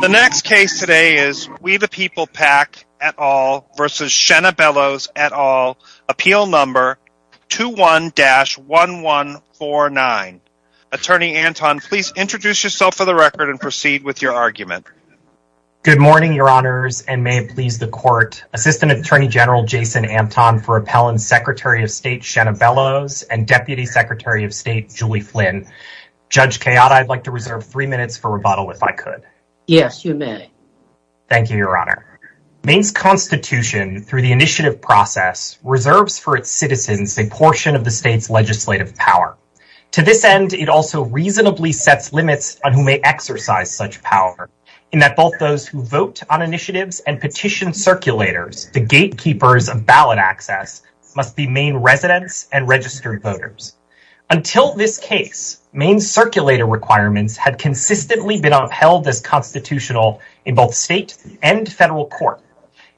The next case today is We The People PAC et al. v. Shanna Bellows et al. Appeal No. 21-1149. Attorney Anton, please introduce yourself for the record and proceed with your argument. Good morning, Your Honors, and may it please the Court. Assistant Attorney General Jason Anton for Appellant Secretary of State Shanna Bellows and Deputy Secretary of State Julie Flynn. Judge Kayotta, I'd like to reserve three minutes for rebuttal if I could. Yes, you may. Thank you, Your Honor. Maine's Constitution, through the initiative process, reserves for its citizens a portion of the state's legislative power. To this end, it also reasonably sets limits on who may exercise such power, in that both those who vote on initiatives and petition circulators, the gatekeepers of ballot access, must be Maine residents and registered voters. Until this case, Maine's circulator requirements had consistently been upheld as constitutional in both state and federal court.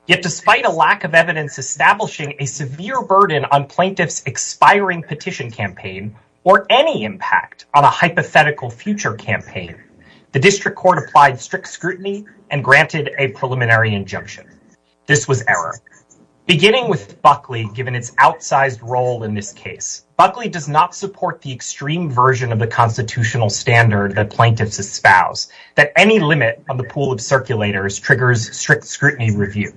Yet despite a lack of evidence establishing a severe burden on plaintiffs' expiring petition campaign, or any impact on a hypothetical future campaign, the district court applied strict scrutiny and granted a preliminary injunction. This was error. Beginning with Buckley, given its outsized role in this case, Buckley does not support the extreme version of the constitutional standard that any limit on the pool of circulators triggers strict scrutiny review.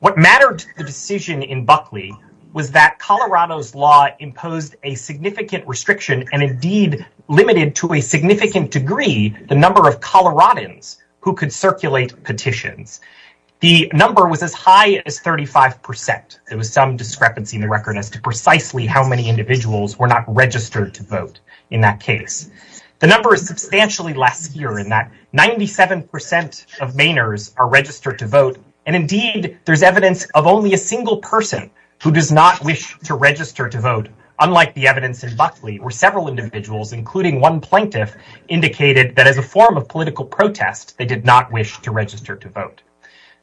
What mattered to the decision in Buckley was that Colorado's law imposed a significant restriction and indeed limited to a significant degree the number of Coloradans who could circulate petitions. The number was as high as 35 percent. There was some discrepancy in the record as to precisely how were not registered to vote in that case. The number is substantially less here in that 97 percent of Mainers are registered to vote, and indeed there's evidence of only a single person who does not wish to register to vote, unlike the evidence in Buckley where several individuals, including one plaintiff, indicated that as a form of political protest, they did not wish to register to vote.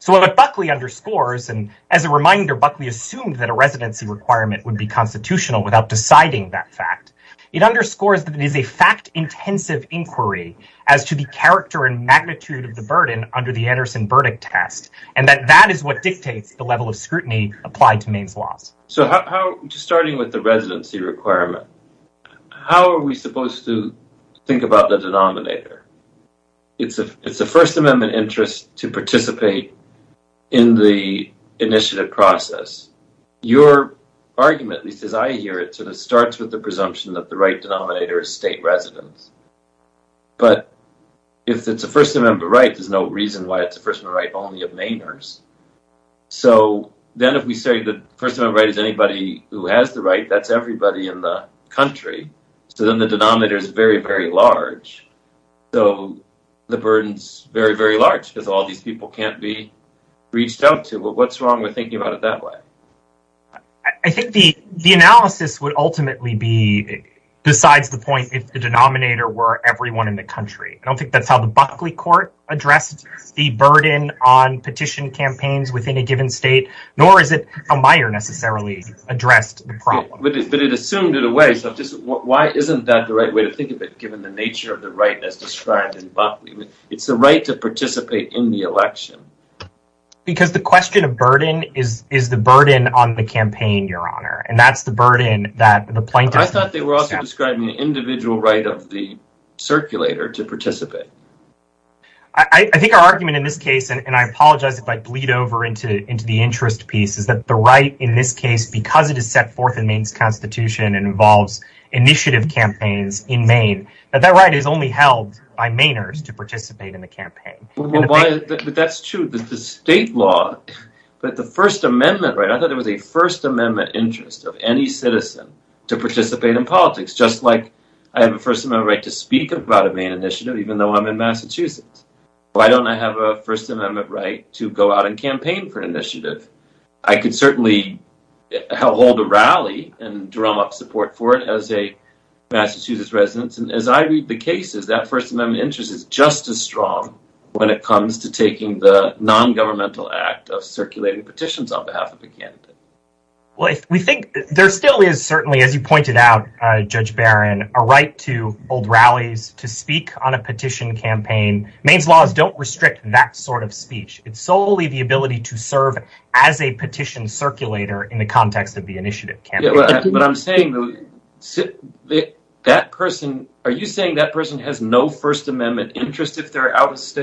So what Buckley underscores, and as a reminder, Buckley assumed that a residency requirement would be constitutional without deciding that fact. It underscores that it is a fact-intensive inquiry as to the character and magnitude of the burden under the Anderson verdict test, and that that is what dictates the level of scrutiny applied to Maine's laws. So how, just starting with the residency requirement, how are we supposed to think about the denominator? It's a First Amendment interest to participate in the initiative process. Your argument, at least as I hear it, sort of starts with the presumption that the right denominator is state residents. But if it's a First Amendment right, there's no reason why it's a First Amendment right only of Mainers. So then if we say the First Amendment right is anybody who has the right, that's everybody in the country, so then the denominator is very, very large. So the burden's very, very large because all these people can't be reached out to. Well, what's wrong with thinking about it that way? I think the analysis would ultimately be besides the point if the denominator were everyone in the country. I don't think that's how the Buckley court addressed the burden on petition campaigns within a given state, nor is it how Meyer necessarily addressed the problem. But it assumed it away, so just why isn't that the right way to think of it, given the nature of the right as described in Buckley? It's the right to participate in the is the burden on the campaign, Your Honor, and that's the burden that the plaintiff... I thought they were also describing the individual right of the circulator to participate. I think our argument in this case, and I apologize if I bleed over into the interest piece, is that the right in this case, because it is set forth in Maine's Constitution and involves initiative campaigns in Maine, that that right is only held by Mainers to participate in the campaign. But that's true. The state law, but the First Amendment right, I thought there was a First Amendment interest of any citizen to participate in politics, just like I have a First Amendment right to speak about a Maine initiative, even though I'm in Massachusetts. Why don't I have a First Amendment right to go out and campaign for an initiative? I could certainly hold a rally and drum up support for it as a Massachusetts resident, and as I read the cases, that First Amendment right is only held when it comes to taking the non-governmental act of circulating petitions on behalf of a candidate. Well, we think there still is certainly, as you pointed out, Judge Barron, a right to hold rallies, to speak on a petition campaign. Maine's laws don't restrict that sort of speech. It's solely the ability to serve as a petition circulator in the context of the initiative campaign. But I'm saying that person, are you saying that person has no First Amendment rights?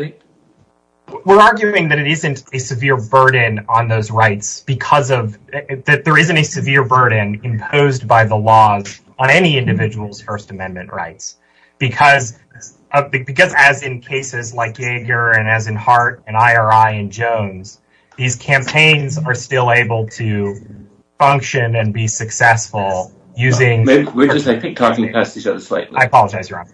We're arguing that it isn't a severe burden on those rights, because of, that there isn't a severe burden imposed by the laws on any individual's First Amendment rights. Because as in cases like Yeager, and as in Hart, and IRI, and Jones, these campaigns are still able to function and be successful using... We're just, I think, talking past each other slightly. I apologize, Your Honor.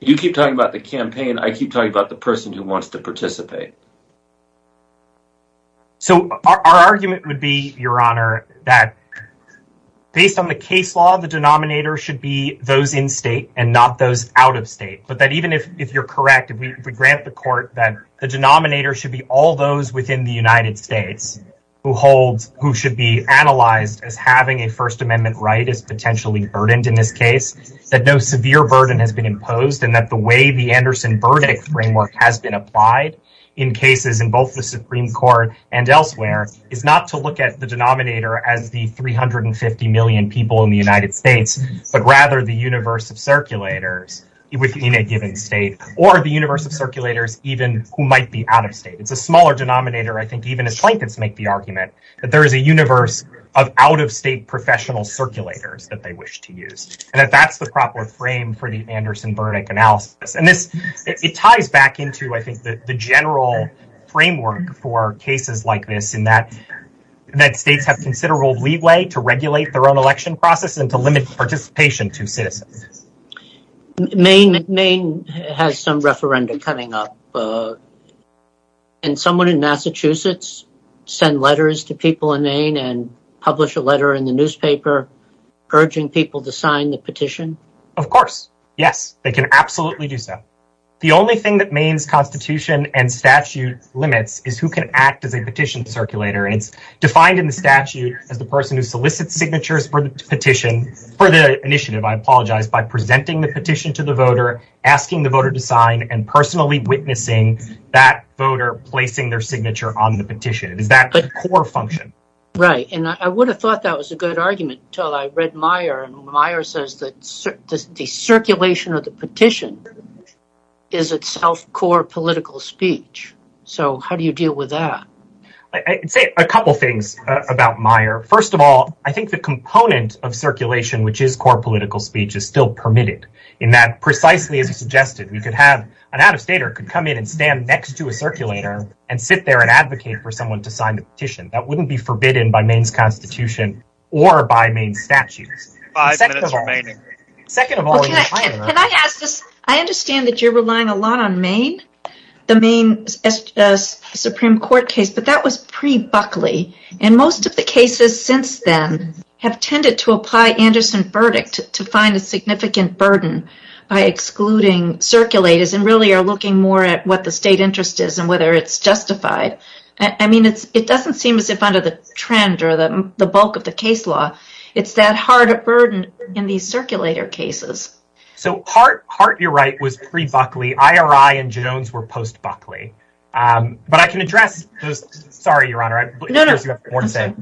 You keep talking about the campaign. I keep talking about the person who wants to participate. So our argument would be, Your Honor, that based on the case law, the denominator should be those in state and not those out of state. But that even if you're correct, if we grant the court that the denominator should be all those within the United States who should be analyzed as having a First Amendment right is potentially burdened in this case, that no severe burden has been imposed, and that the way the Anderson verdict framework has been applied in cases in both the Supreme Court and elsewhere is not to look at the denominator as the 350 million people in the United States, but rather the universe of circulators within a given state, or the universe of circulators even who might be out of state. It's a smaller denominator, I think, even as Plankett's make the argument, that there is a universe of out of state professional circulators that they wish to use, and that that's the proper frame for the Anderson verdict analysis. And it ties back into, I think, the general framework for cases like this in that states have considerable leeway to regulate their own election process and to limit participation to citizens. Maine has some referenda coming up, and someone in Massachusetts sent letters to people in Maine and published a letter in the newspaper urging people to sign the petition. Of course, yes, they can absolutely do so. The only thing that Maine's constitution and statute limits is who can act as a petition circulator, and it's defined in the statute as the person who solicits signatures for the petition, for the initiative, I apologize, by presenting the petition to the voter, asking the voter to sign, and personally witnessing that voter placing their signature on the petition. It is that core function. Right, and I would have thought that was a good argument until I read Meyer, and Meyer says that the circulation of the petition is itself core political speech. So how do you deal with that? I'd say a couple things about Meyer. First of all, I think the component of circulation, which is core political speech, is still permitted in that precisely as you suggested, an out-of-stater could come in and stand next to a circulator and sit there and advocate for someone to sign the petition. That wouldn't be forbidden by Maine's constitution or by Maine's statutes. I understand that you're relying a lot on Maine, the Maine Supreme Court case, but that was pre-Buckley, and most of the cases since then have tended to apply Anderson verdict to find a significant burden by excluding circulators and really are looking more at what the state interest is and whether it's justified. I mean, it doesn't seem as if under the trend or the bulk of the case law, it's that hard a burden in these circulator cases. So Hart, you're right, was pre-Buckley. IRI and Jones were post-Buckley. But I can address, sorry, your honor, I have more to say.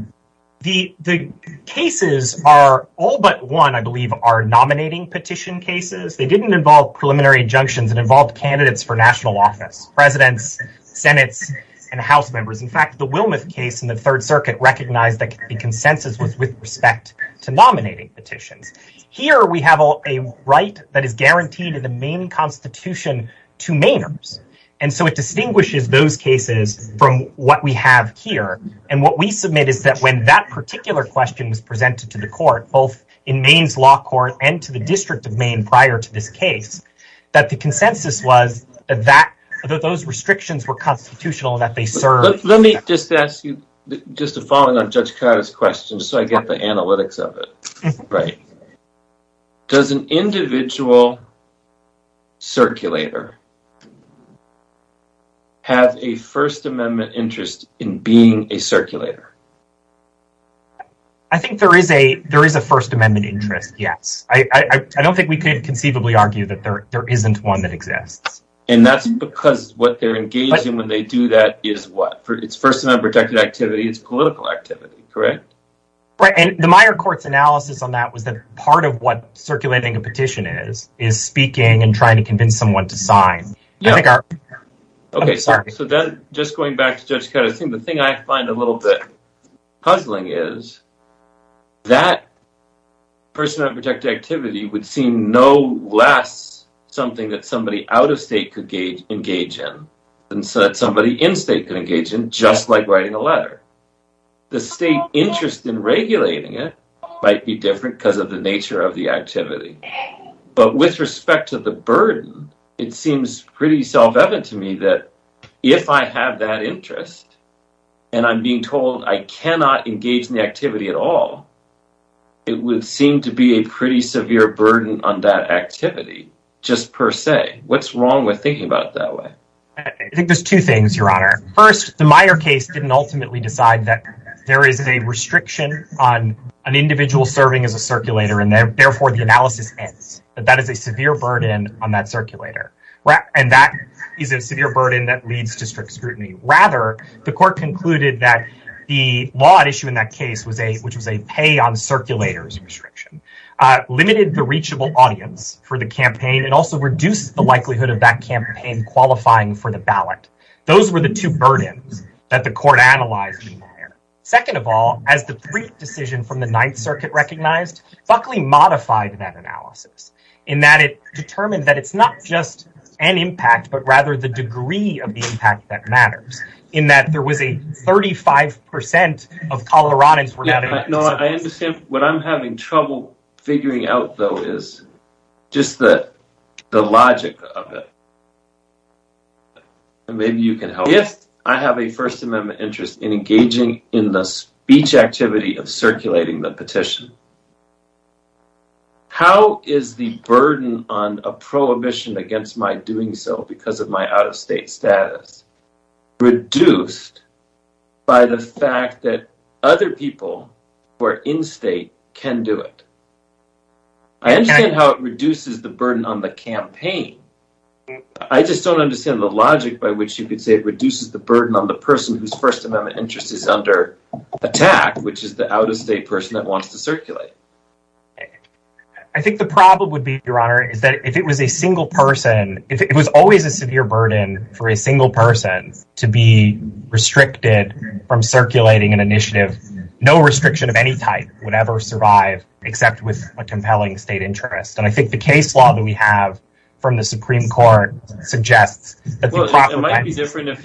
The cases are all but one, I believe, are nominating petition cases. They didn't involve preliminary injunctions that involved candidates for national office, presidents, senates, and house members. In fact, the Wilmoth case in the third circuit recognized that the consensus was with respect to nominating petitions. Here we have a right that is guaranteed in the Maine constitution to Mainers. And so it distinguishes those cases from what we have here. And what we submit is that when that particular question was presented to the court, both in Maine's law court and to the district of Maine prior to this case, that the consensus was that those restrictions were constitutional and that they served. Let me just ask you just a following on Judge Kada's question so I get the analytics of it. Right. Does an individual circulator have a First Amendment interest in being a circulator? I think there is a First Amendment interest, yes. I don't think we could conceivably argue that there isn't one that exists. And that's because what they're engaging when they do that is what? It's First Amendment protected activity. It's political activity, correct? Right. And the minor court's analysis on that was that part of what circulating a petition is, is speaking and trying to convince someone to sign. Okay. So just going back to Judge Kada's thing, the thing I find a little bit puzzling is that First Amendment protected activity would seem no less something that somebody out of state engage in than somebody in state could engage in, just like writing a letter. The state interest in regulating it might be different because of the nature of the activity. But with respect to the burden, it seems pretty self-evident to me that if I have that interest and I'm being told I cannot engage in the activity at all, it would seem to be a pretty severe burden on that activity, just per se. What's wrong with thinking about it that way? I think there's two things, Your Honor. First, the Meyer case didn't ultimately decide that there is a restriction on an individual serving as a circulator, and therefore the analysis ends. That is a severe burden on that circulator. And that is a severe burden that leads to strict scrutiny. Rather, the court concluded that the law at issue in that case, which was a pay on audience for the campaign, it also reduced the likelihood of that campaign qualifying for the ballot. Those were the two burdens that the court analyzed in Meyer. Second of all, as the brief decision from the Ninth Circuit recognized, Buckley modified that analysis in that it determined that it's not just an impact, but rather the degree of the impact that matters, in that there was a 35% of Coloradans. No, I understand. What I'm having trouble figuring out, though, is just the logic of it. Maybe you can help. If I have a First Amendment interest in engaging in the speech activity of circulating the petition, how is the burden on a prohibition against my doing so because of my out-of-state status reduced by the fact that other people who are in-state can do it? I understand how it reduces the burden on the campaign. I just don't understand the logic by which you could say it reduces the burden on the person whose First Amendment interest is under attack, which is the out-of-state person that wants to circulate. I think the problem would be, Your Honor, is that if it was a single person, if it was always a severe burden for a single person to be restricted from circulating an initiative, no restriction of any type would ever survive except with a compelling state interest. And I think the case law that we have from the Supreme Court suggests that the proper It might be different if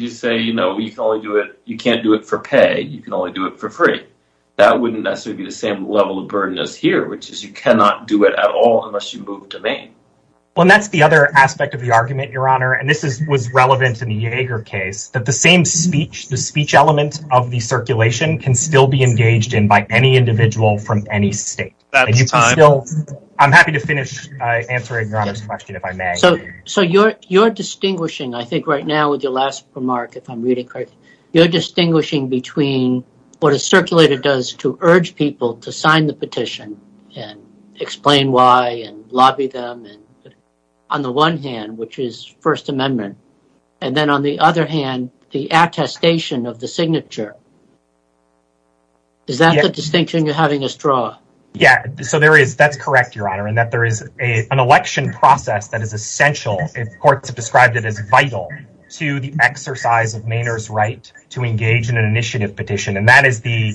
you say, you know, you can't do it for pay, you can only do it for free. That wouldn't necessarily be the same level of burden as here, which is you cannot do it at all unless you move to Maine. Well, that's the other aspect of the argument, Your Honor. And this is was relevant to the Yeager case that the same speech, the speech element of the circulation can still be engaged in by any individual from any state. I'm happy to finish answering Your Honor's question if I may. So you're distinguishing, I think right now with your last remark, if I'm does to urge people to sign the petition and explain why and lobby them and on the one hand, which is First Amendment, and then on the other hand, the attestation of the signature. Is that the distinction you're having a straw? Yeah, so there is that's correct, Your Honor, and that there is a an election process that is essential if courts have described it as vital to the exercise of Maynard's right to engage in an initiative petition, and that is the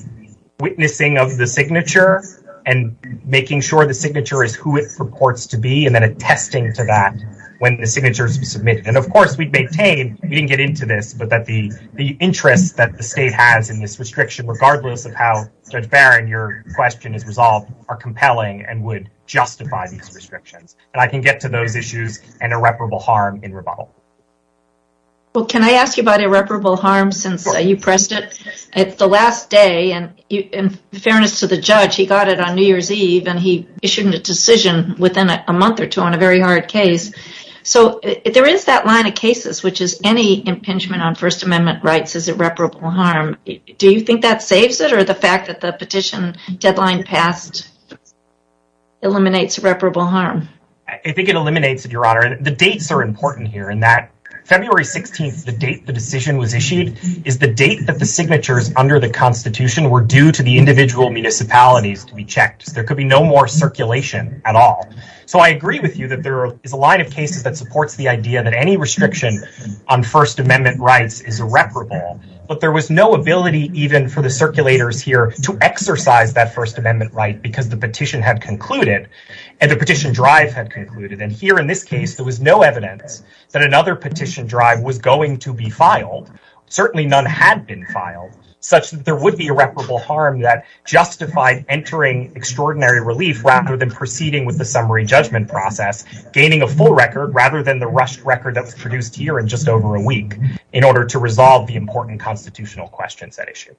witnessing of the signature and making sure the signature is who it purports to be, and then attesting to that when the signature is submitted. And of course, we maintain, we didn't get into this, but that the the interest that the state has in this restriction, regardless of how Judge Barron, your question is resolved, are compelling and would justify these restrictions. And I can get to those issues and irreparable harm in rebuttal. Well, can I ask you about irreparable harm since you pressed it? It's the last day and in fairness to the judge, he got it on New Year's Eve and he issued a decision within a month or two on a very hard case. So there is that line of cases, which is any impingement on First Amendment rights is irreparable harm. Do you think that saves it or the fact that the petition deadline passed eliminates irreparable harm? I think it eliminates it, Your Honor. The dates are January 16th. The date the decision was issued is the date that the signatures under the Constitution were due to the individual municipalities to be checked. There could be no more circulation at all. So I agree with you that there is a line of cases that supports the idea that any restriction on First Amendment rights is irreparable, but there was no ability even for the circulators here to exercise that First Amendment right because the petition had concluded and the petition drive had concluded. And here in this case, there was no evidence that another petition drive was going to be filed. Certainly none had been filed, such that there would be irreparable harm that justified entering extraordinary relief rather than proceeding with the summary judgment process, gaining a full record rather than the rushed record that was produced here in just over a week in order to resolve the important constitutional questions at issue.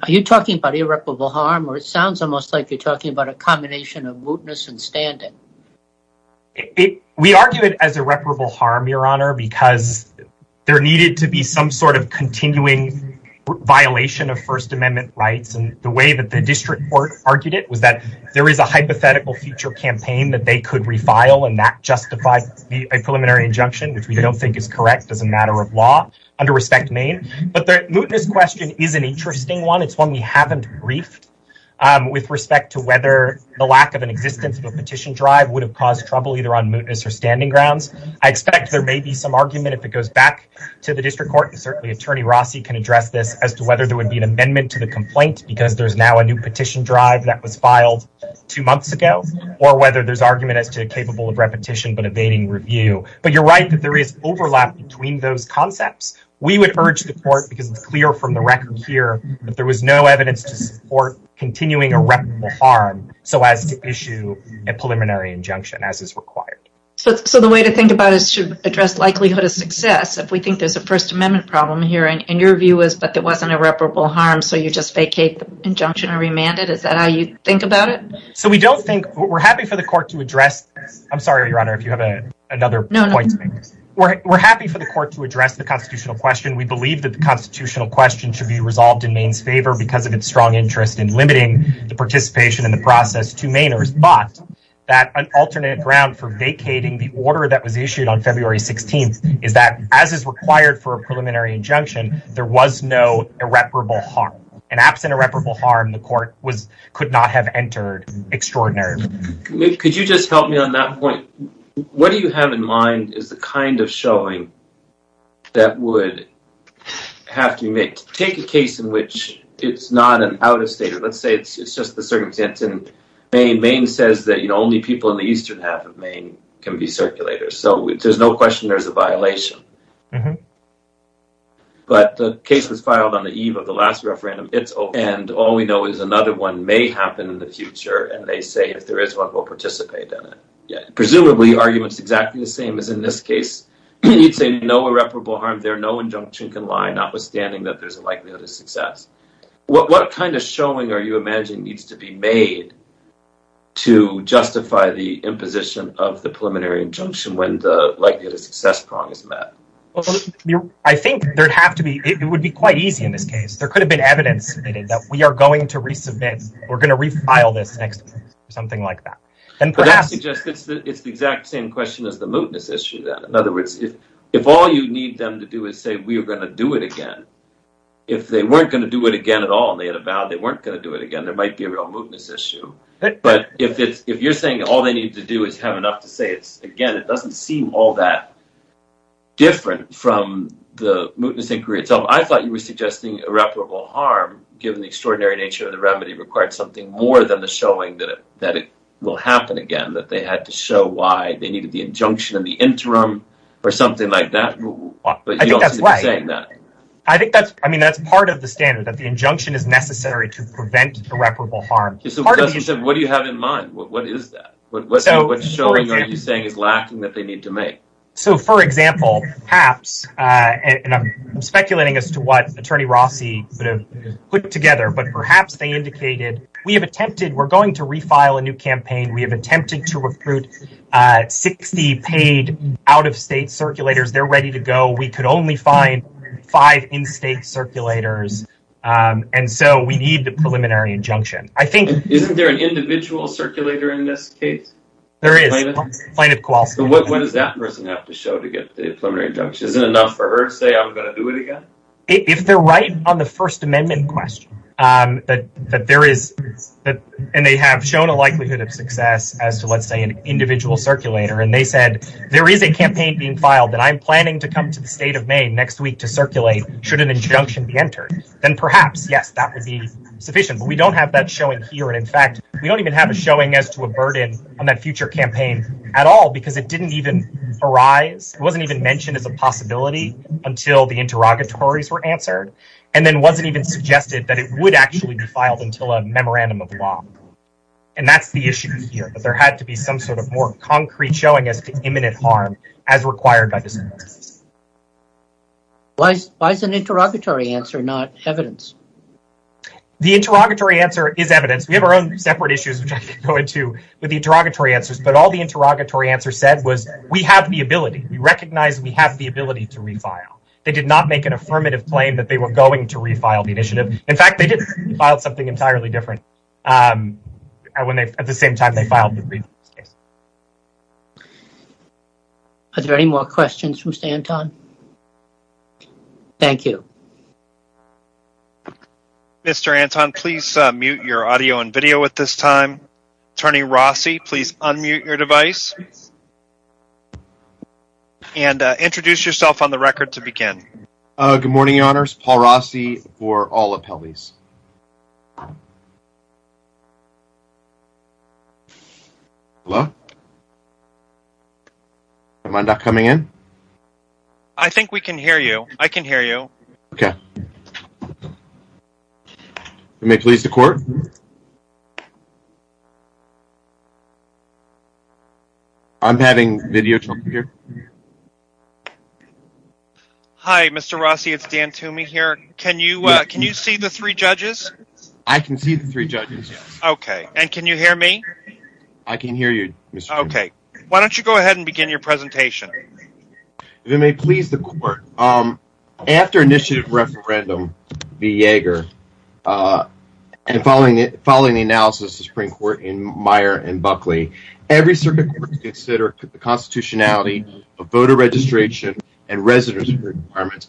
Are you talking about irreparable harm or it sounds almost like talking about a combination of mootness and standing? We argue it as irreparable harm, Your Honor, because there needed to be some sort of continuing violation of First Amendment rights. And the way that the district court argued it was that there is a hypothetical future campaign that they could refile and that justified a preliminary injunction, which we don't think is correct as a matter of law under Respect Maine. But the mootness question is an interesting one. It's one we haven't briefed with respect to whether the lack of an existence of a petition drive would have caused trouble either on mootness or standing grounds. I expect there may be some argument if it goes back to the district court, and certainly Attorney Rossi can address this, as to whether there would be an amendment to the complaint because there's now a new petition drive that was filed two months ago, or whether there's argument as to capable of repetition but evading review. But you're right that there is overlap between those concepts. We would urge the court, because it's clear from the record here that there was no evidence to support continuing irreparable harm so as to issue a preliminary injunction as is required. So the way to think about it is to address likelihood of success. If we think there's a First Amendment problem here, and your view is that there wasn't irreparable harm, so you just vacate the injunction or remand it. Is that how you think about it? So we don't think, we're happy for the court to address, I'm sorry, Your Honor, if you have another point to make. We're happy for the court to address the constitutional question. We believe that the constitutional question should be resolved in Maine's favor because of its strong interest in limiting the participation in the process to Mainers, but that an alternate ground for vacating the order that was issued on February 16th is that, as is required for a preliminary injunction, there was no irreparable harm. And absent irreparable harm, the court could not have entered Extraordinary. Could you just help me on that point? What do you have in is the kind of showing that would have to be made. Take a case in which it's not an out-of-state, let's say it's just the circumstance in Maine. Maine says that only people in the eastern half of Maine can be circulators, so there's no question there's a violation. But the case was filed on the eve of the last referendum, it's open, and all we know is another one may happen in the future, and they say if there is one, we'll participate in it. Presumably, the argument's exactly the same as in this case. You'd say no irreparable harm there, no injunction can lie, notwithstanding that there's a likelihood of success. What kind of showing are you imagining needs to be made to justify the imposition of the preliminary injunction when the likelihood of success prong is met? I think there'd have to be, it would be quite easy in this case. There could have been evidence that we are going to resubmit, we're going to refile this next week, something like that. It's the exact same question as the mootness issue then. In other words, if all you need them to do is say we are going to do it again, if they weren't going to do it again at all and they had vowed they weren't going to do it again, there might be a real mootness issue. But if you're saying all they need to do is have enough to say, again, it doesn't seem all that different from the mootness inquiry itself. I thought you were suggesting irreparable harm, given the extraordinary nature of the remedy, required something more than the showing that it will happen again, that they had to show why they needed the injunction in the interim or something like that. I think that's part of the standard, that the injunction is necessary to prevent irreparable harm. What do you have in mind? What is that? What showing are you saying is lacking that they need to make? For example, perhaps, and I'm speculating as to what Attorney Rossi would have put together, but perhaps they indicated, we're going to refile a new campaign. We have attempted to recruit 60 paid out-of-state circulators. They're ready to go. We could only find five in-state circulators, and so we need the preliminary injunction. Isn't there an individual circulator in this case? There is, plaintiff Kowalski. What does that person have to show to get the preliminary injunction? Isn't it enough for her to say, I'm going to do it again? If they're right on the First Amendment question, and they have shown a likelihood of success as to, let's say, an individual circulator, and they said, there is a campaign being filed that I'm planning to come to the state of Maine next week to circulate, should an injunction be entered, then perhaps, yes, that would be sufficient. But we don't have that showing here, and in fact, we don't even have a showing as to a burden on that future campaign at all, because it didn't arise. It wasn't even mentioned as a possibility until the interrogatories were answered, and then it wasn't even suggested that it would actually be filed until a memorandum of law, and that's the issue here, that there had to be some sort of more concrete showing as to imminent harm as required by the circumstances. Why is an interrogatory answer not evidence? The interrogatory answer is evidence. We have our own separate issues, which I could go into with the interrogatory answers, but all the interrogatory answer said was, we have the ability. We recognize we have the ability to refile. They did not make an affirmative claim that they were going to refile the initiative. In fact, they did file something entirely different at the same time they filed the briefcase. Are there any more questions for Mr. Anton? Thank you. Mr. Anton, please mute your audio and video at this time. Attorney Rossi, please unmute your device, and introduce yourself on the record to begin. Good morning, your honors. Paul Rossi for all appellees. Hello? Am I not coming in? I think we can hear you. I can hear you. Okay. You may please the court. I'm having video trouble here. Hi, Mr. Rossi. It's Dan Toomey here. Can you see the three judges? I can see the three judges. Okay. And can you hear me? I can hear you, Mr. Toomey. Okay. Why don't you go ahead and begin your presentation? You may please the court. After initiative referendum v. Yeager, and following the analysis of the Supreme Court in Meyer and Buckley, every circuit court to consider the constitutionality of voter registration and residence requirements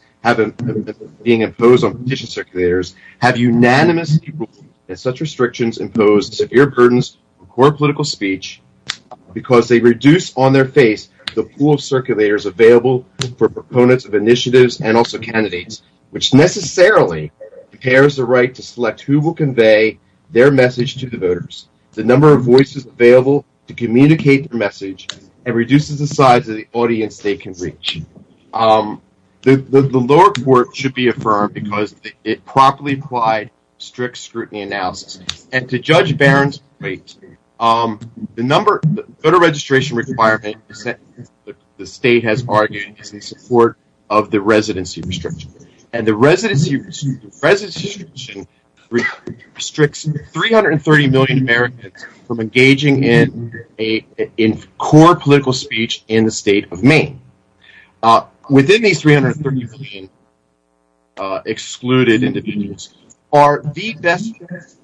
being imposed on petition circulators have unanimously ruled that such restrictions impose severe burdens on court political speech because they reduce on their face the pool of circulators available for proponents of initiatives and also candidates, which necessarily impairs the right to select who will convey their message to the voters. The number of voices available to communicate the message and reduces the size of the audience they can reach. The lower court should be affirmed because it properly applied strict scrutiny analysis. And to Judge Barron's point, the number of voter registration requirements the state has argued is in support of the residency restriction. And the residency restricts 330 million Americans from engaging in core political speech in the state of Maine. Within these 330 million excluded individuals are the best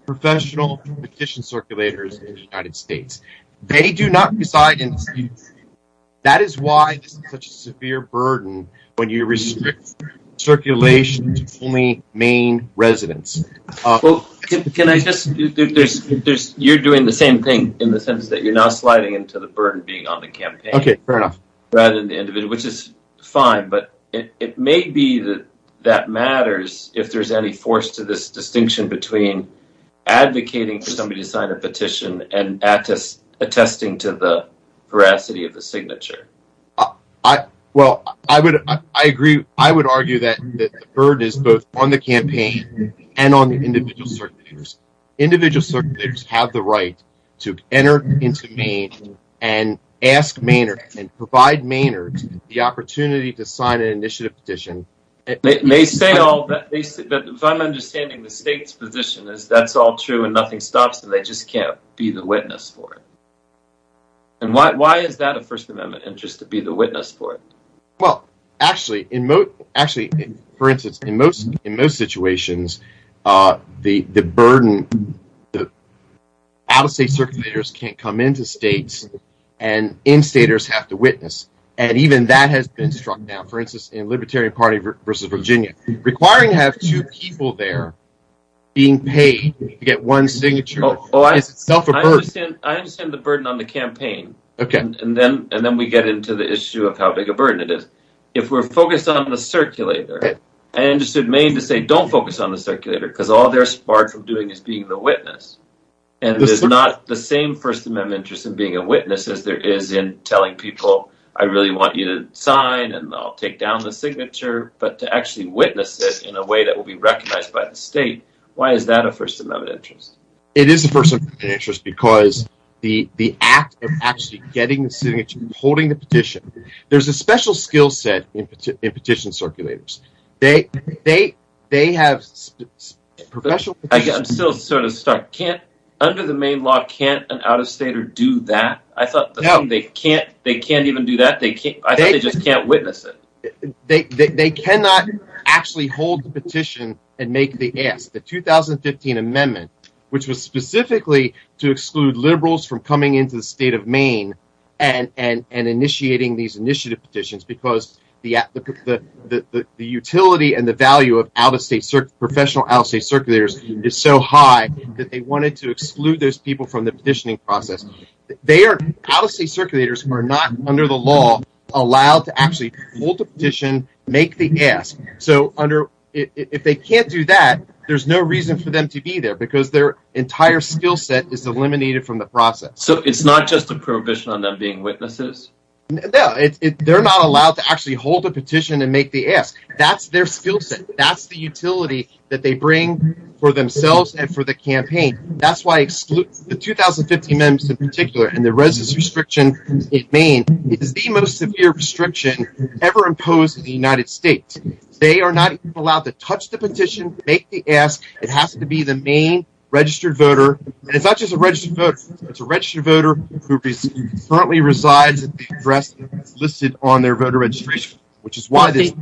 professional petition circulators in the United States. They do not reside in the state. That is why this is such a severe burden when you restrict circulation to only Maine residents. Well, can I just, you're doing the same thing in the sense that you're now sliding into the burden being on the campaign rather than the individual, which is fine, but it may be that that matters if there's any force to this distinction between advocating for somebody to sign a petition and attesting to the veracity of the signature. Well, I agree. I would argue that the burden is both on the campaign and on the individual circulators. Individual circulators have the right to enter into Maine and ask Mainers and provide the opportunity to sign an initiative petition. They say all that, but if I'm understanding the state's position is that's all true and nothing stops and they just can't be the witness for it. And why is that a First Amendment interest to be the witness for it? Well, actually, for instance, in most situations, the burden, the out-of-state circulators can't come into states and in-staters have to witness. And even that has been struck down, for instance, in Libertarian Party versus Virginia. Requiring to have two people there being paid to get one signature is itself a burden. I understand the burden on the campaign, and then we get into the issue of how big a burden it is. If we're focused on the circulator, I understood Maine to say don't focus on the circulator because all they're sparred from is being the witness. And it's not the same First Amendment interest in being a witness as there is in telling people I really want you to sign and I'll take down the signature, but to actually witness it in a way that will be recognized by the state. Why is that a First Amendment interest? It is a First Amendment interest because the act of actually getting the signature, holding the petition, there's a special skill set in petition circulators. They have professional... I'm still sort of stuck. Under the Maine law, can't an out-of-stater do that? I thought they can't even do that. I thought they just can't witness it. They cannot actually hold the petition and make the ask. The 2015 amendment, which was specifically to exclude liberals from coming into the state of Maine and initiating these initiative petitions because the utility and the value of out-of-state professional out-of-state circulators is so high that they wanted to exclude those people from the petitioning process. Out-of-state circulators are not under the law allowed to actually hold the petition, make the ask. So if they can't do that, there's no reason for them to be there because their entire skill set is eliminated from the process. So it's not just a prohibition on them being witnesses? No, they're not allowed to actually hold a petition and make the ask. That's their skill set. That's the utility that they bring for themselves and for the campaign. That's why the 2015 amendments in particular and the residence restriction in Maine is the most severe restriction ever imposed in the United States. They are not allowed to touch the petition, make the ask. It has to be the Maine registered voter. And it's not just a registered voter. It's a registered voter who currently resides at the address listed on their voter registration, which is why this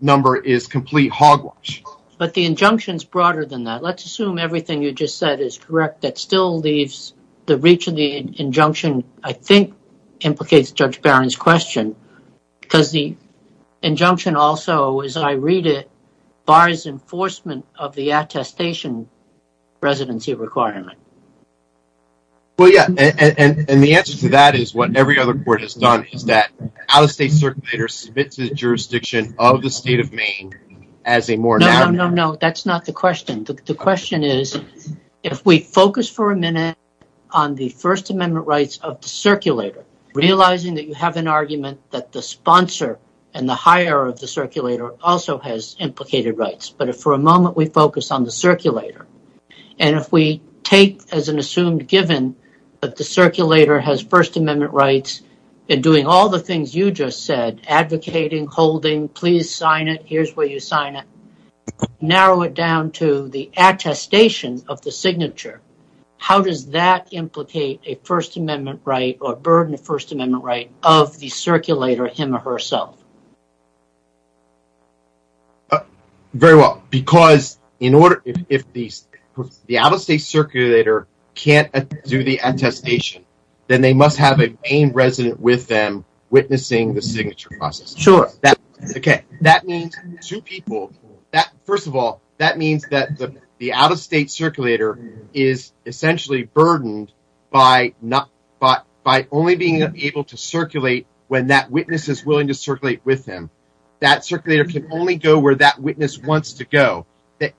number is complete hogwash. But the injunction is broader than that. Let's assume everything you just said is correct. That still leaves the reach of the injunction, I think, implicates Judge Barron's question because the injunction also, as I read it, of the attestation residency requirement. Well, yeah. And the answer to that is what every other court has done is that out-of-state circulator submits the jurisdiction of the state of Maine as a more... No, no, no, no. That's not the question. The question is, if we focus for a minute on the First Amendment rights of the circulator, realizing that you have an argument that the sponsor and the hire of the circulator also has implicated rights, but if for a moment we focus on the circulator, and if we take as an assumed given that the circulator has First Amendment rights and doing all the things you just said, advocating, holding, please sign it, here's where you sign it, narrow it down to the attestation of the signature, how does that him or herself? Very well, because if the out-of-state circulator can't do the attestation, then they must have a Maine resident with them witnessing the signature process. Sure. Okay, that means two people. First of all, that means that the out-of-state circulator is essentially by only being able to circulate when that witness is willing to circulate with him. That circulator can only go where that witness wants to go.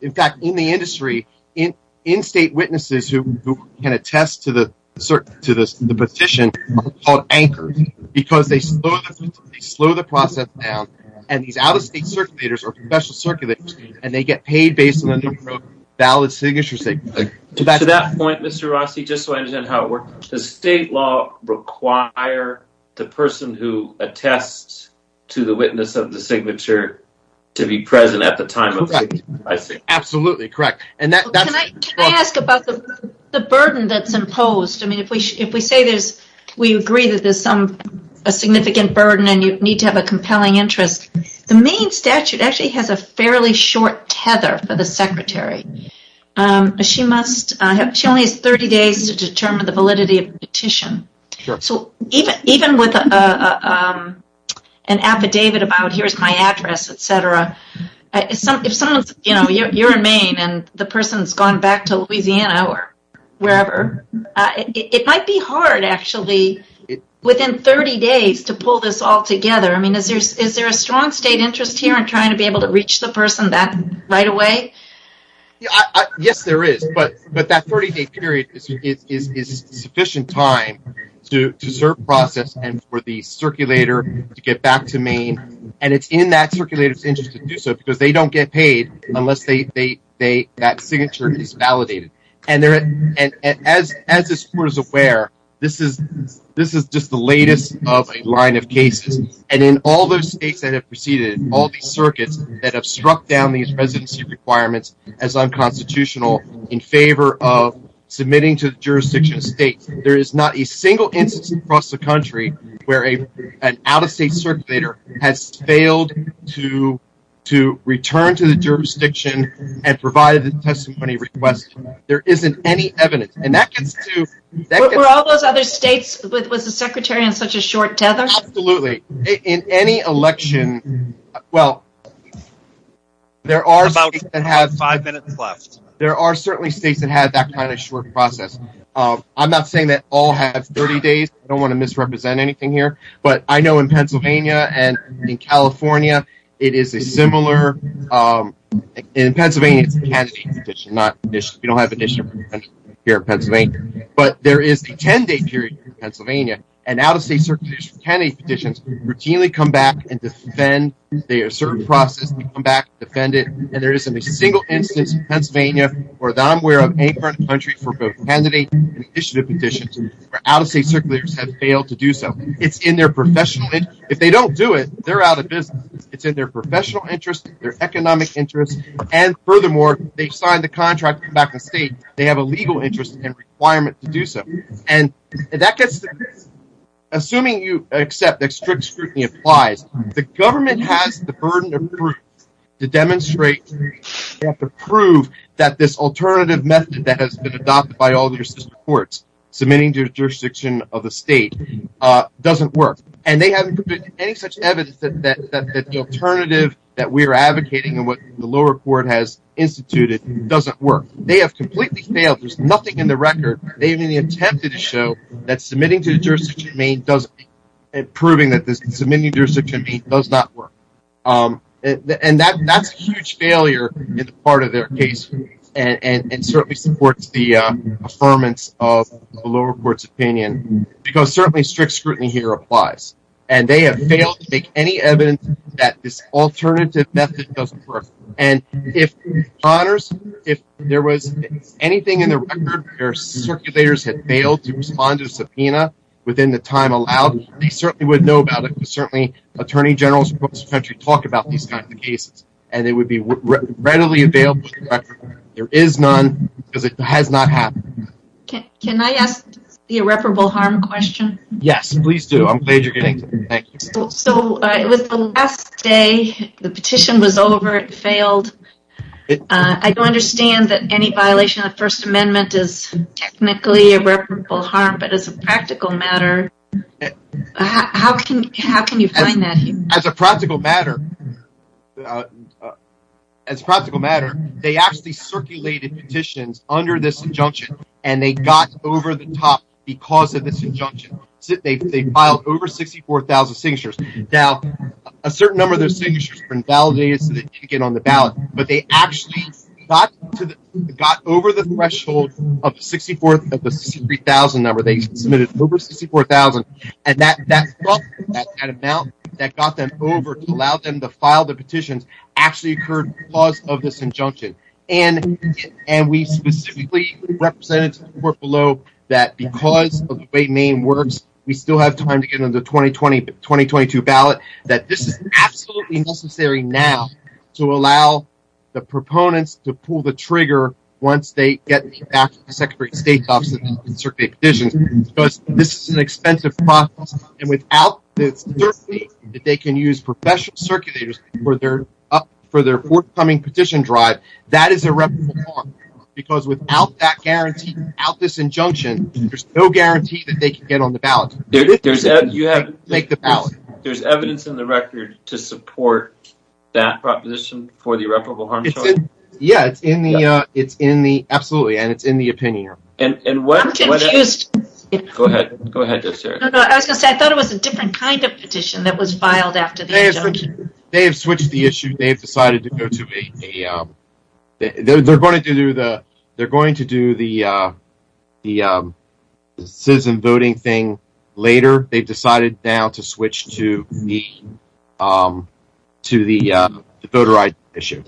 In fact, in the industry, in-state witnesses who can attest to the petition are called anchors because they slow the process down, and these out-of-state circulators are professional circulators, and they get paid when they wrote valid signatures. To that point, Mr. Rossi, just so I understand how it works, does state law require the person who attests to the witness of the signature to be present at the time? Absolutely correct. Can I ask about the burden that's imposed? If we say we agree that there's a significant burden and you need to have a compelling interest, the Maine statute actually has a fairly short tether for the secretary. She only has 30 days to determine the validity of the petition. Even with an affidavit about, here's my address, etc., if you're in Maine and the person has gone back to Louisiana or wherever, it might be hard actually within 30 days to pull this all together. Is there a strong state interest here in trying to be able to reach the person that right away? Yes, there is, but that 30-day period is sufficient time to serve process and for the circulator to get back to Maine, and it's in that circulator's interest to do so because they don't get paid unless that signature is validated. As this court is aware, this is just the latest of a line of states that have proceeded in all these circuits that have struck down these residency requirements as unconstitutional in favor of submitting to the jurisdiction of states. There is not a single instance across the country where an out-of-state circulator has failed to return to the jurisdiction and provide a testimony request. There isn't any evidence. Were all those other states, was the Secretary on such a short tether? Absolutely. In any election, well, there are about five minutes left. There are certainly states that have that kind of short process. I'm not saying that all have 30 days. I don't want to misrepresent anything here, but I know in Pennsylvania and in California, it is a similar, in Pennsylvania, it's a candidate petition. We don't have a petition here in Pennsylvania, but there is a 10-day period in Pennsylvania, and out-of-state circulators' candidate petitions routinely come back and defend their certain process. They come back and defend it, and there isn't a single instance in Pennsylvania where I'm aware of any country for both candidate and initiative petitions where out-of-state circulators have failed to do so. It's in their professional interest. If they don't do it, they're out of business. It's in their professional interest, their economic interest, and furthermore, they've signed the contract to come back to the state. They have a legal interest and requirement to do so, and that gets to this. Assuming you accept that strict scrutiny applies, the government has the burden of proof to demonstrate, to prove that this alternative method that has been adopted by all your courts submitting to the jurisdiction of the state doesn't work, and they haven't put any such evidence that the alternative that we're advocating and the lower court has instituted doesn't work. They have completely failed. There's nothing in the record. They haven't even attempted to show that submitting to the jurisdiction of Maine doesn't and proving that the submitting jurisdiction of Maine does not work, and that's a huge failure in the part of their case and certainly supports the affirmance of the lower court's opinion, because certainly strict scrutiny here applies, and they have failed to make any evidence that this alternative method doesn't work. If there was anything in the record where circulators had failed to respond to a subpoena within the time allowed, they certainly would know about it. Certainly, attorney generals from across the country talk about these kinds of cases, and it would be readily available. There is none because it has not happened. Can I ask the irreparable harm question? Yes, please do. I'm glad you're getting to it. So, it was the last day. The petition was over. It failed. I do understand that any violation of the First Amendment is technically irreparable harm, but as a practical matter, how can you find that? As a practical matter, they actually circulated petitions under this injunction, and they got over the top because of signatures. Now, a certain number of those signatures were invalidated so that you could get on the ballot, but they actually got over the threshold of the 64,000 number. They submitted over 64,000, and that amount that got them over to allow them to file the petitions actually occurred because of this injunction, and we specifically represented to the court below that because of the way Maine works, we still have time to get into the 2020-2022 ballot, that this is absolutely necessary now to allow the proponents to pull the trigger once they get back to the Secretary of State's office and circulate petitions because this is an expensive process, and without the certainty that they can use professional circulators for their forthcoming petition drive, that is irreparable harm because without that guarantee, without this injunction, there's no guarantee that they can get on the ballot. There's evidence in the record to support that proposition for the irreparable harm? Yeah, it's in the, absolutely, and it's in the opinion. And I'm confused. Go ahead, go ahead. I was going to say, I thought it was a different kind of petition that was filed after the injunction. They have switched the issue. They've decided to go to a, they're going to do the, they're going to do the citizen voting thing later. They've decided now to switch to the, to the voter ID issue.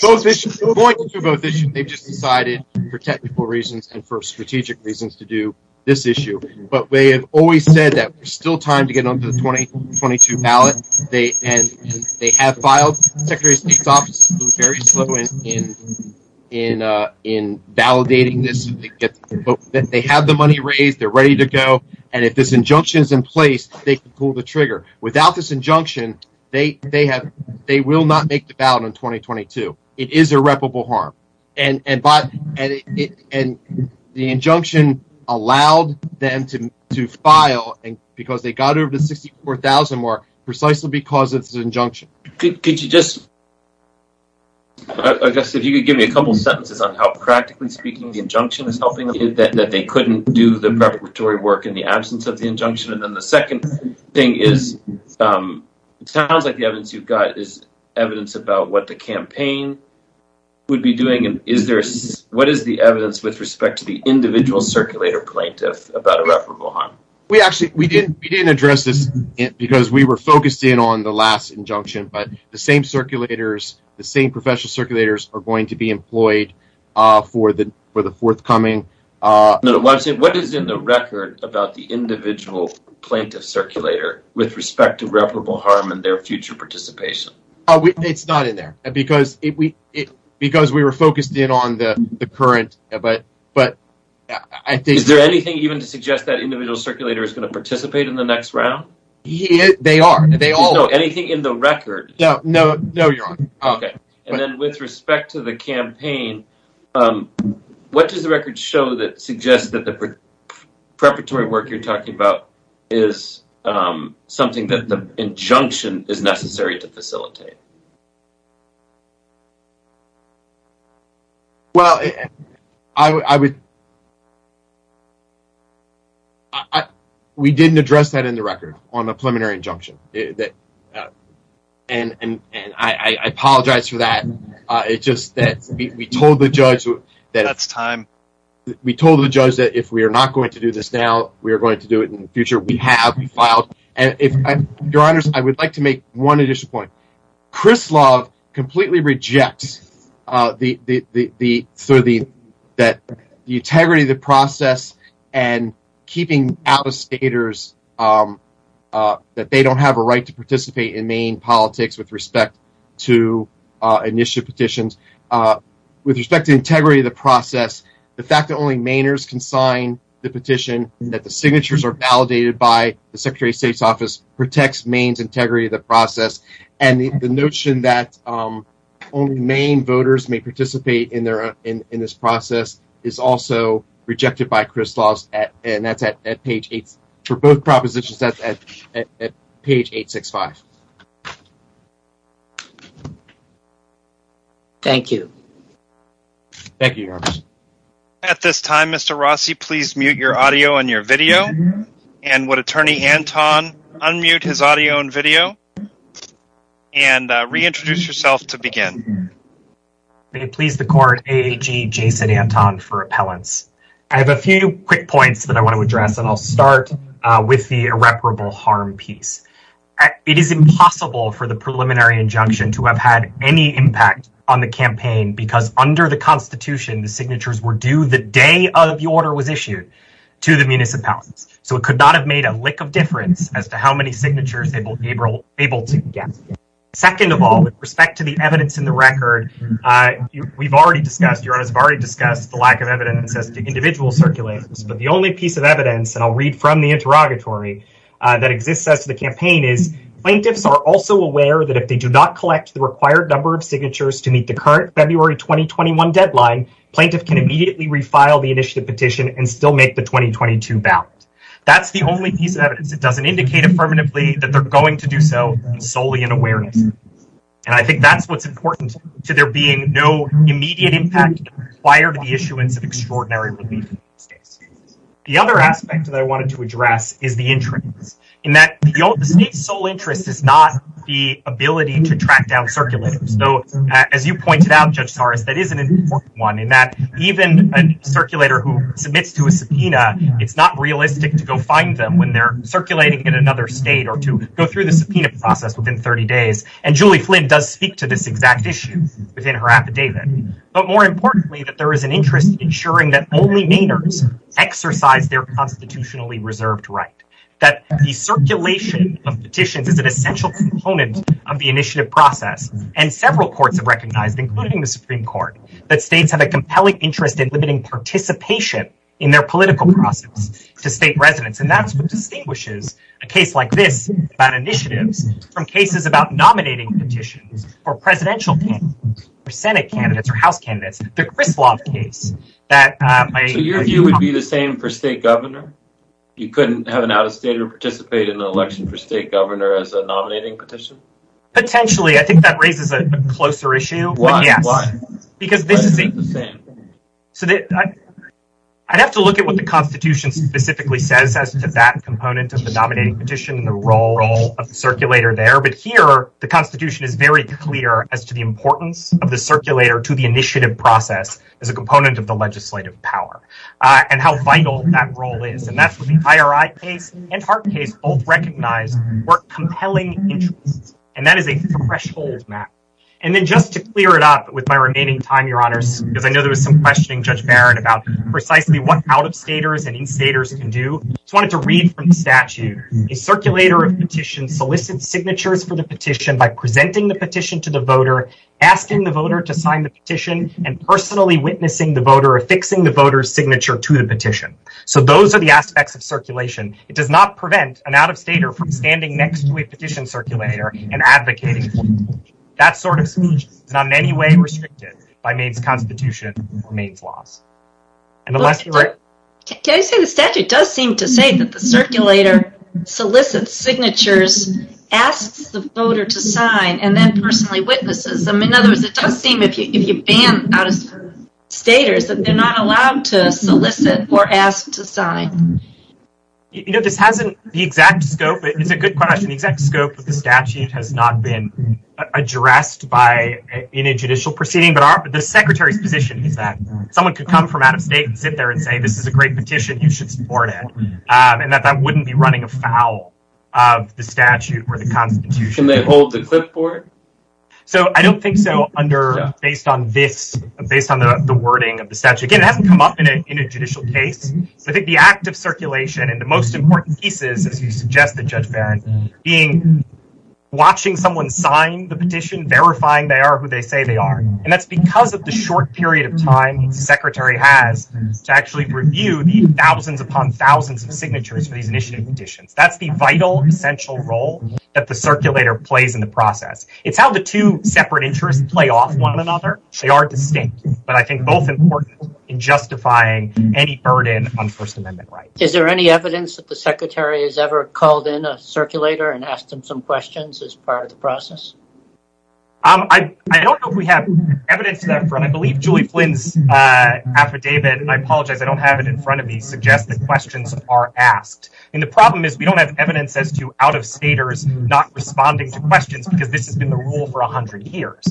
Both issues, they're going to do both issues. They've just decided for technical reasons and for strategic reasons to do this issue, but they have always said that there's still time to get onto the 2022 ballot. They, and they have filed, Secretary of State's office has been very slow in, in, in validating this. They have the money raised, they're ready to go. And if this injunction is in place, they can pull the trigger. Without this injunction, they, they have, they will not make the ballot in 2022. It is irreparable harm. And, and by, and it, and the injunction allowed them to, to file because they got over the 64,000 mark precisely because it's an injunction. Could you just, I guess if you could give me a couple of sentences on how practically speaking, the injunction is helping them that they couldn't do the preparatory work in the absence of the injunction. And then the second thing is, sounds like the evidence you've got is evidence about what the campaign would be doing. And is there, what is the evidence with respect to the individual circulator plaintiff about irreparable harm? We actually, we didn't, we didn't address this because we were focused in on the last injunction, but the same circulators, the same professional circulators are going to be employed for the, for the forthcoming. What is in the record about the with respect to reputable harm and their future participation? Oh, it's not in there because it, we, it, because we were focused in on the current, but, but I think, is there anything even to suggest that individual circulator is going to participate in the next round? They are, they all know anything in the record. No, no, no. You're on. Okay. And then with respect to the campaign, what does the record show that suggests that the preparatory work you're talking about is something that the injunction is necessary to facilitate? Well, I would, we didn't address that in the record on the preliminary injunction that, and, and, and I, that if we are not going to do this now, we are going to do it in the future. We have filed. And if your honors, I would like to make one additional point. Chris Love completely rejects the, the, the, the, sort of the, that the integrity of the process and keeping out of stators that they don't have a right to participate in Maine politics with respect to initial petitions with respect to integrity of the process. The fact that only Mainers can sign the petition that the signatures are validated by the secretary of state's office protects Maine's integrity of the process. And the, the notion that only main voters may participate in their, in, in this process is also rejected by Chris Laws at, and that's at page eight for both you. Thank you. At this time, Mr. Rossi, please mute your audio and your video. And what attorney Anton unmute his audio and video and reintroduce yourself to begin. May it please the court, Jason Anton for appellants. I have a few quick points that I want to address and I'll start with the irreparable harm piece. It is impossible for the preliminary injunction to have had any impact on the campaign because under the constitution, the signatures were due the day of the order was issued to the municipalities. So it could not have made a lick of difference as to how many signatures they were able to get. Second of all, with respect to the evidence in the record, we've already discussed, your honors have already discussed the lack of evidence as to individual circulations, but the only piece of evidence, and I'll read from the interrogatory, that exists as to the campaign is plaintiffs are also aware that if they do not collect the required number of signatures to meet the current February 2021 deadline, plaintiff can immediately refile the initiative petition and still make the 2022 ballot. That's the only piece of evidence that doesn't indicate affirmatively that they're going to do so solely in awareness. And I think that's what's important to there being no immediate impact prior to the issuance of extraordinary relief. The other aspect that I wanted to address is the interest in that the state's sole interest is not the ability to track down circulators. Though, as you pointed out, Judge Torres, that is an important one in that even a circulator who submits to a subpoena, it's not realistic to go find them when they're circulating in another state or to go through the subpoena process within 30 days. And Julie Flynn does speak to this exact within her affidavit. But more importantly, that there is an interest in ensuring that only Mainers exercise their constitutionally reserved right, that the circulation of petitions is an essential component of the initiative process. And several courts have recognized, including the Supreme Court, that states have a compelling interest in limiting participation in their political process to state residents. And that's what distinguishes a case like this about initiatives from cases about Senate candidates or House candidates, the Griswold case. So your view would be the same for state governor? You couldn't have an out-of-state to participate in an election for state governor as a nominating petition? Potentially. I think that raises a closer issue. Why? Why? Because this is the same. I'd have to look at what the Constitution specifically says as to that component of the nominating petition and the role of the circulator there. But here, the Constitution is very clear as to the importance of the circulator to the initiative process as a component of the legislative power and how vital that role is. And that's what the IRI case and Hart case both recognized were compelling interests. And that is a threshold map. And then just to clear it up with my remaining time, Your Honors, because I know there was some questioning, Judge Barrett, about precisely what out-of-staters and in-staters can do. I just wanted to read from the statute. A circulator of petitions solicits signatures for the petition by presenting the petition to the voter, asking the voter to sign the petition, and personally witnessing the voter affixing the voter's signature to the petition. So those are the aspects of circulation. It does not prevent an out-of-stater from standing next to a petition circulator and advocating for the petition. That sort of speech is not in any way restricted by Maine's Constitution or Maine's laws. Can I say the statute does seem to say that the circulator solicits signatures, asks the voter to sign, and then personally witnesses them. In other words, it does seem, if you ban out-of-staters, that they're not allowed to solicit or ask to sign. You know, this hasn't, the exact scope, it's a good question, the exact scope of the statute has not been addressed by any judicial proceeding. But the Secretary's position is that someone could come from out-of-state and sit there and say, this is a great petition, you should support it. And that that wouldn't be running afoul of the statute or the Constitution. Can they hold the clipboard? So I don't think so under, based on this, based on the wording of the statute. Again, it hasn't come up in a judicial case. I think the act of circulation and the most important pieces, as you suggested, Judge Barron, being watching someone sign the petition, verifying they are who they say they are. And that's because of the short period of time the Secretary has to actually review the thousands upon thousands of signatures for these initiative petitions. That's the vital, essential role that the circulator plays in the process. It's how the two separate interests play off one another. They are distinct, but I think both important in justifying any burden on First Amendment rights. Is there any evidence that the Secretary has ever called in a circulator and asked him some questions as part of the process? Um, I don't know if we have evidence to that front. I believe Julie Flynn's affidavit, and I apologize, I don't have it in front of me, suggests that questions are asked. And the problem is we don't have evidence as to out-of-staters not responding to questions because this has been the rule for 100 years.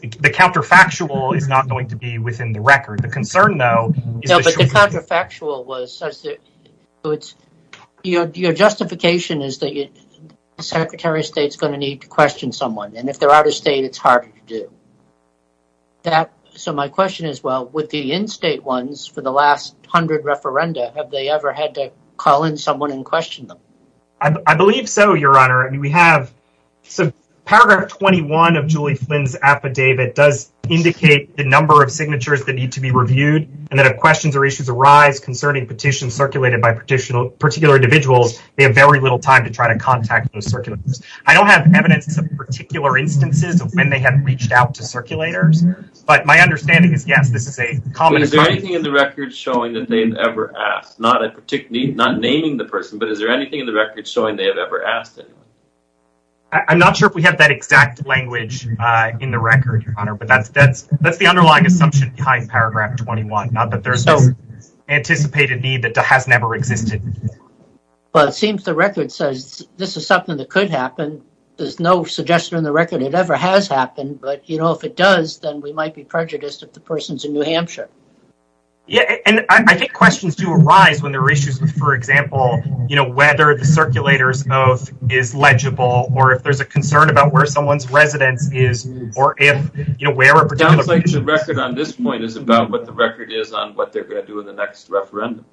The counterfactual is not going to be within the record. The concern, though, is that the counterfactual was such that it's your justification is that the Secretary of State is going to need to question someone. And if they're out-of-state, it's harder to do that. So my question is, well, with the in-state ones for the last 100 referenda, have they ever had to call in someone and question them? I believe so, Your Honor. I mean, we have, so paragraph 21 of Julie Flynn's affidavit does indicate the number of signatures that need to be reviewed and that if questions or issues arise concerning petitions circulated by particular individuals, they have very little time to try to contact those circulators. I don't have evidence of particular instances of when they have reached out to circulators, but my understanding is, yes, this is a common Is there anything in the record showing that they've ever asked? Not naming the person, but is there anything in the record showing they have ever asked anyone? I'm not sure if we have that exact language in the record, Your Honor, but that's the underlying assumption behind paragraph 21, not that there's anticipated need that has never existed. Well, it seems the record says this is something that could happen. There's no suggestion in the record it ever has happened, but, you know, if it does, then we might be prejudiced if the person's in New Hampshire. Yeah, and I think questions do arise when there are issues with, for example, you know, whether the circulator's oath is legible or if there's a concern about where someone's residence is or if, you know, where a particular person lives. It sounds like the record on this point is about what the record is on what they're going to do in the next referendum.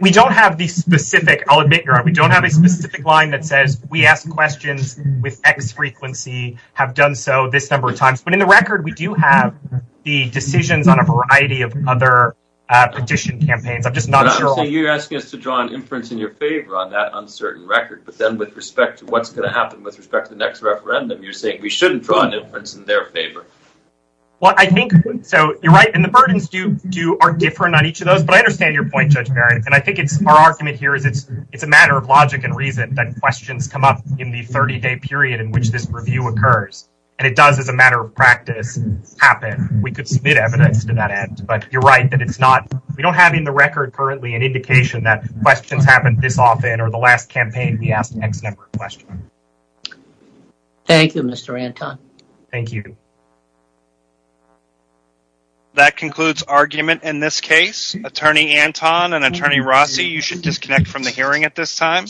We don't have the specific, I'll admit, Your Honor, we don't have a specific line that says we ask questions with X frequency, have done so this number of times, but in the record we do have the decisions on a variety of other petition campaigns. I'm just not sure. So you're asking us to draw an inference in your favor on that uncertain record, but then with respect to what's going to happen with respect to the next referendum, you're saying we shouldn't draw an inference in their favor. Well, I think so, you're right, and the burdens do are different on each of those, but I understand your point, Judge Barry, and I think it's our argument here is it's a matter of logic and reason that questions come up in the 30-day period in which this review occurs, and it does as a matter of practice happen. We could submit evidence to that end, but you're right that it's not, we don't have in the record currently an indication that questions happened this often or the last campaign we asked X number of questions. Thank you, Mr. Anton. Thank you. That concludes argument in this case. Attorney Anton and Attorney Rossi, you should disconnect from the hearing at this time.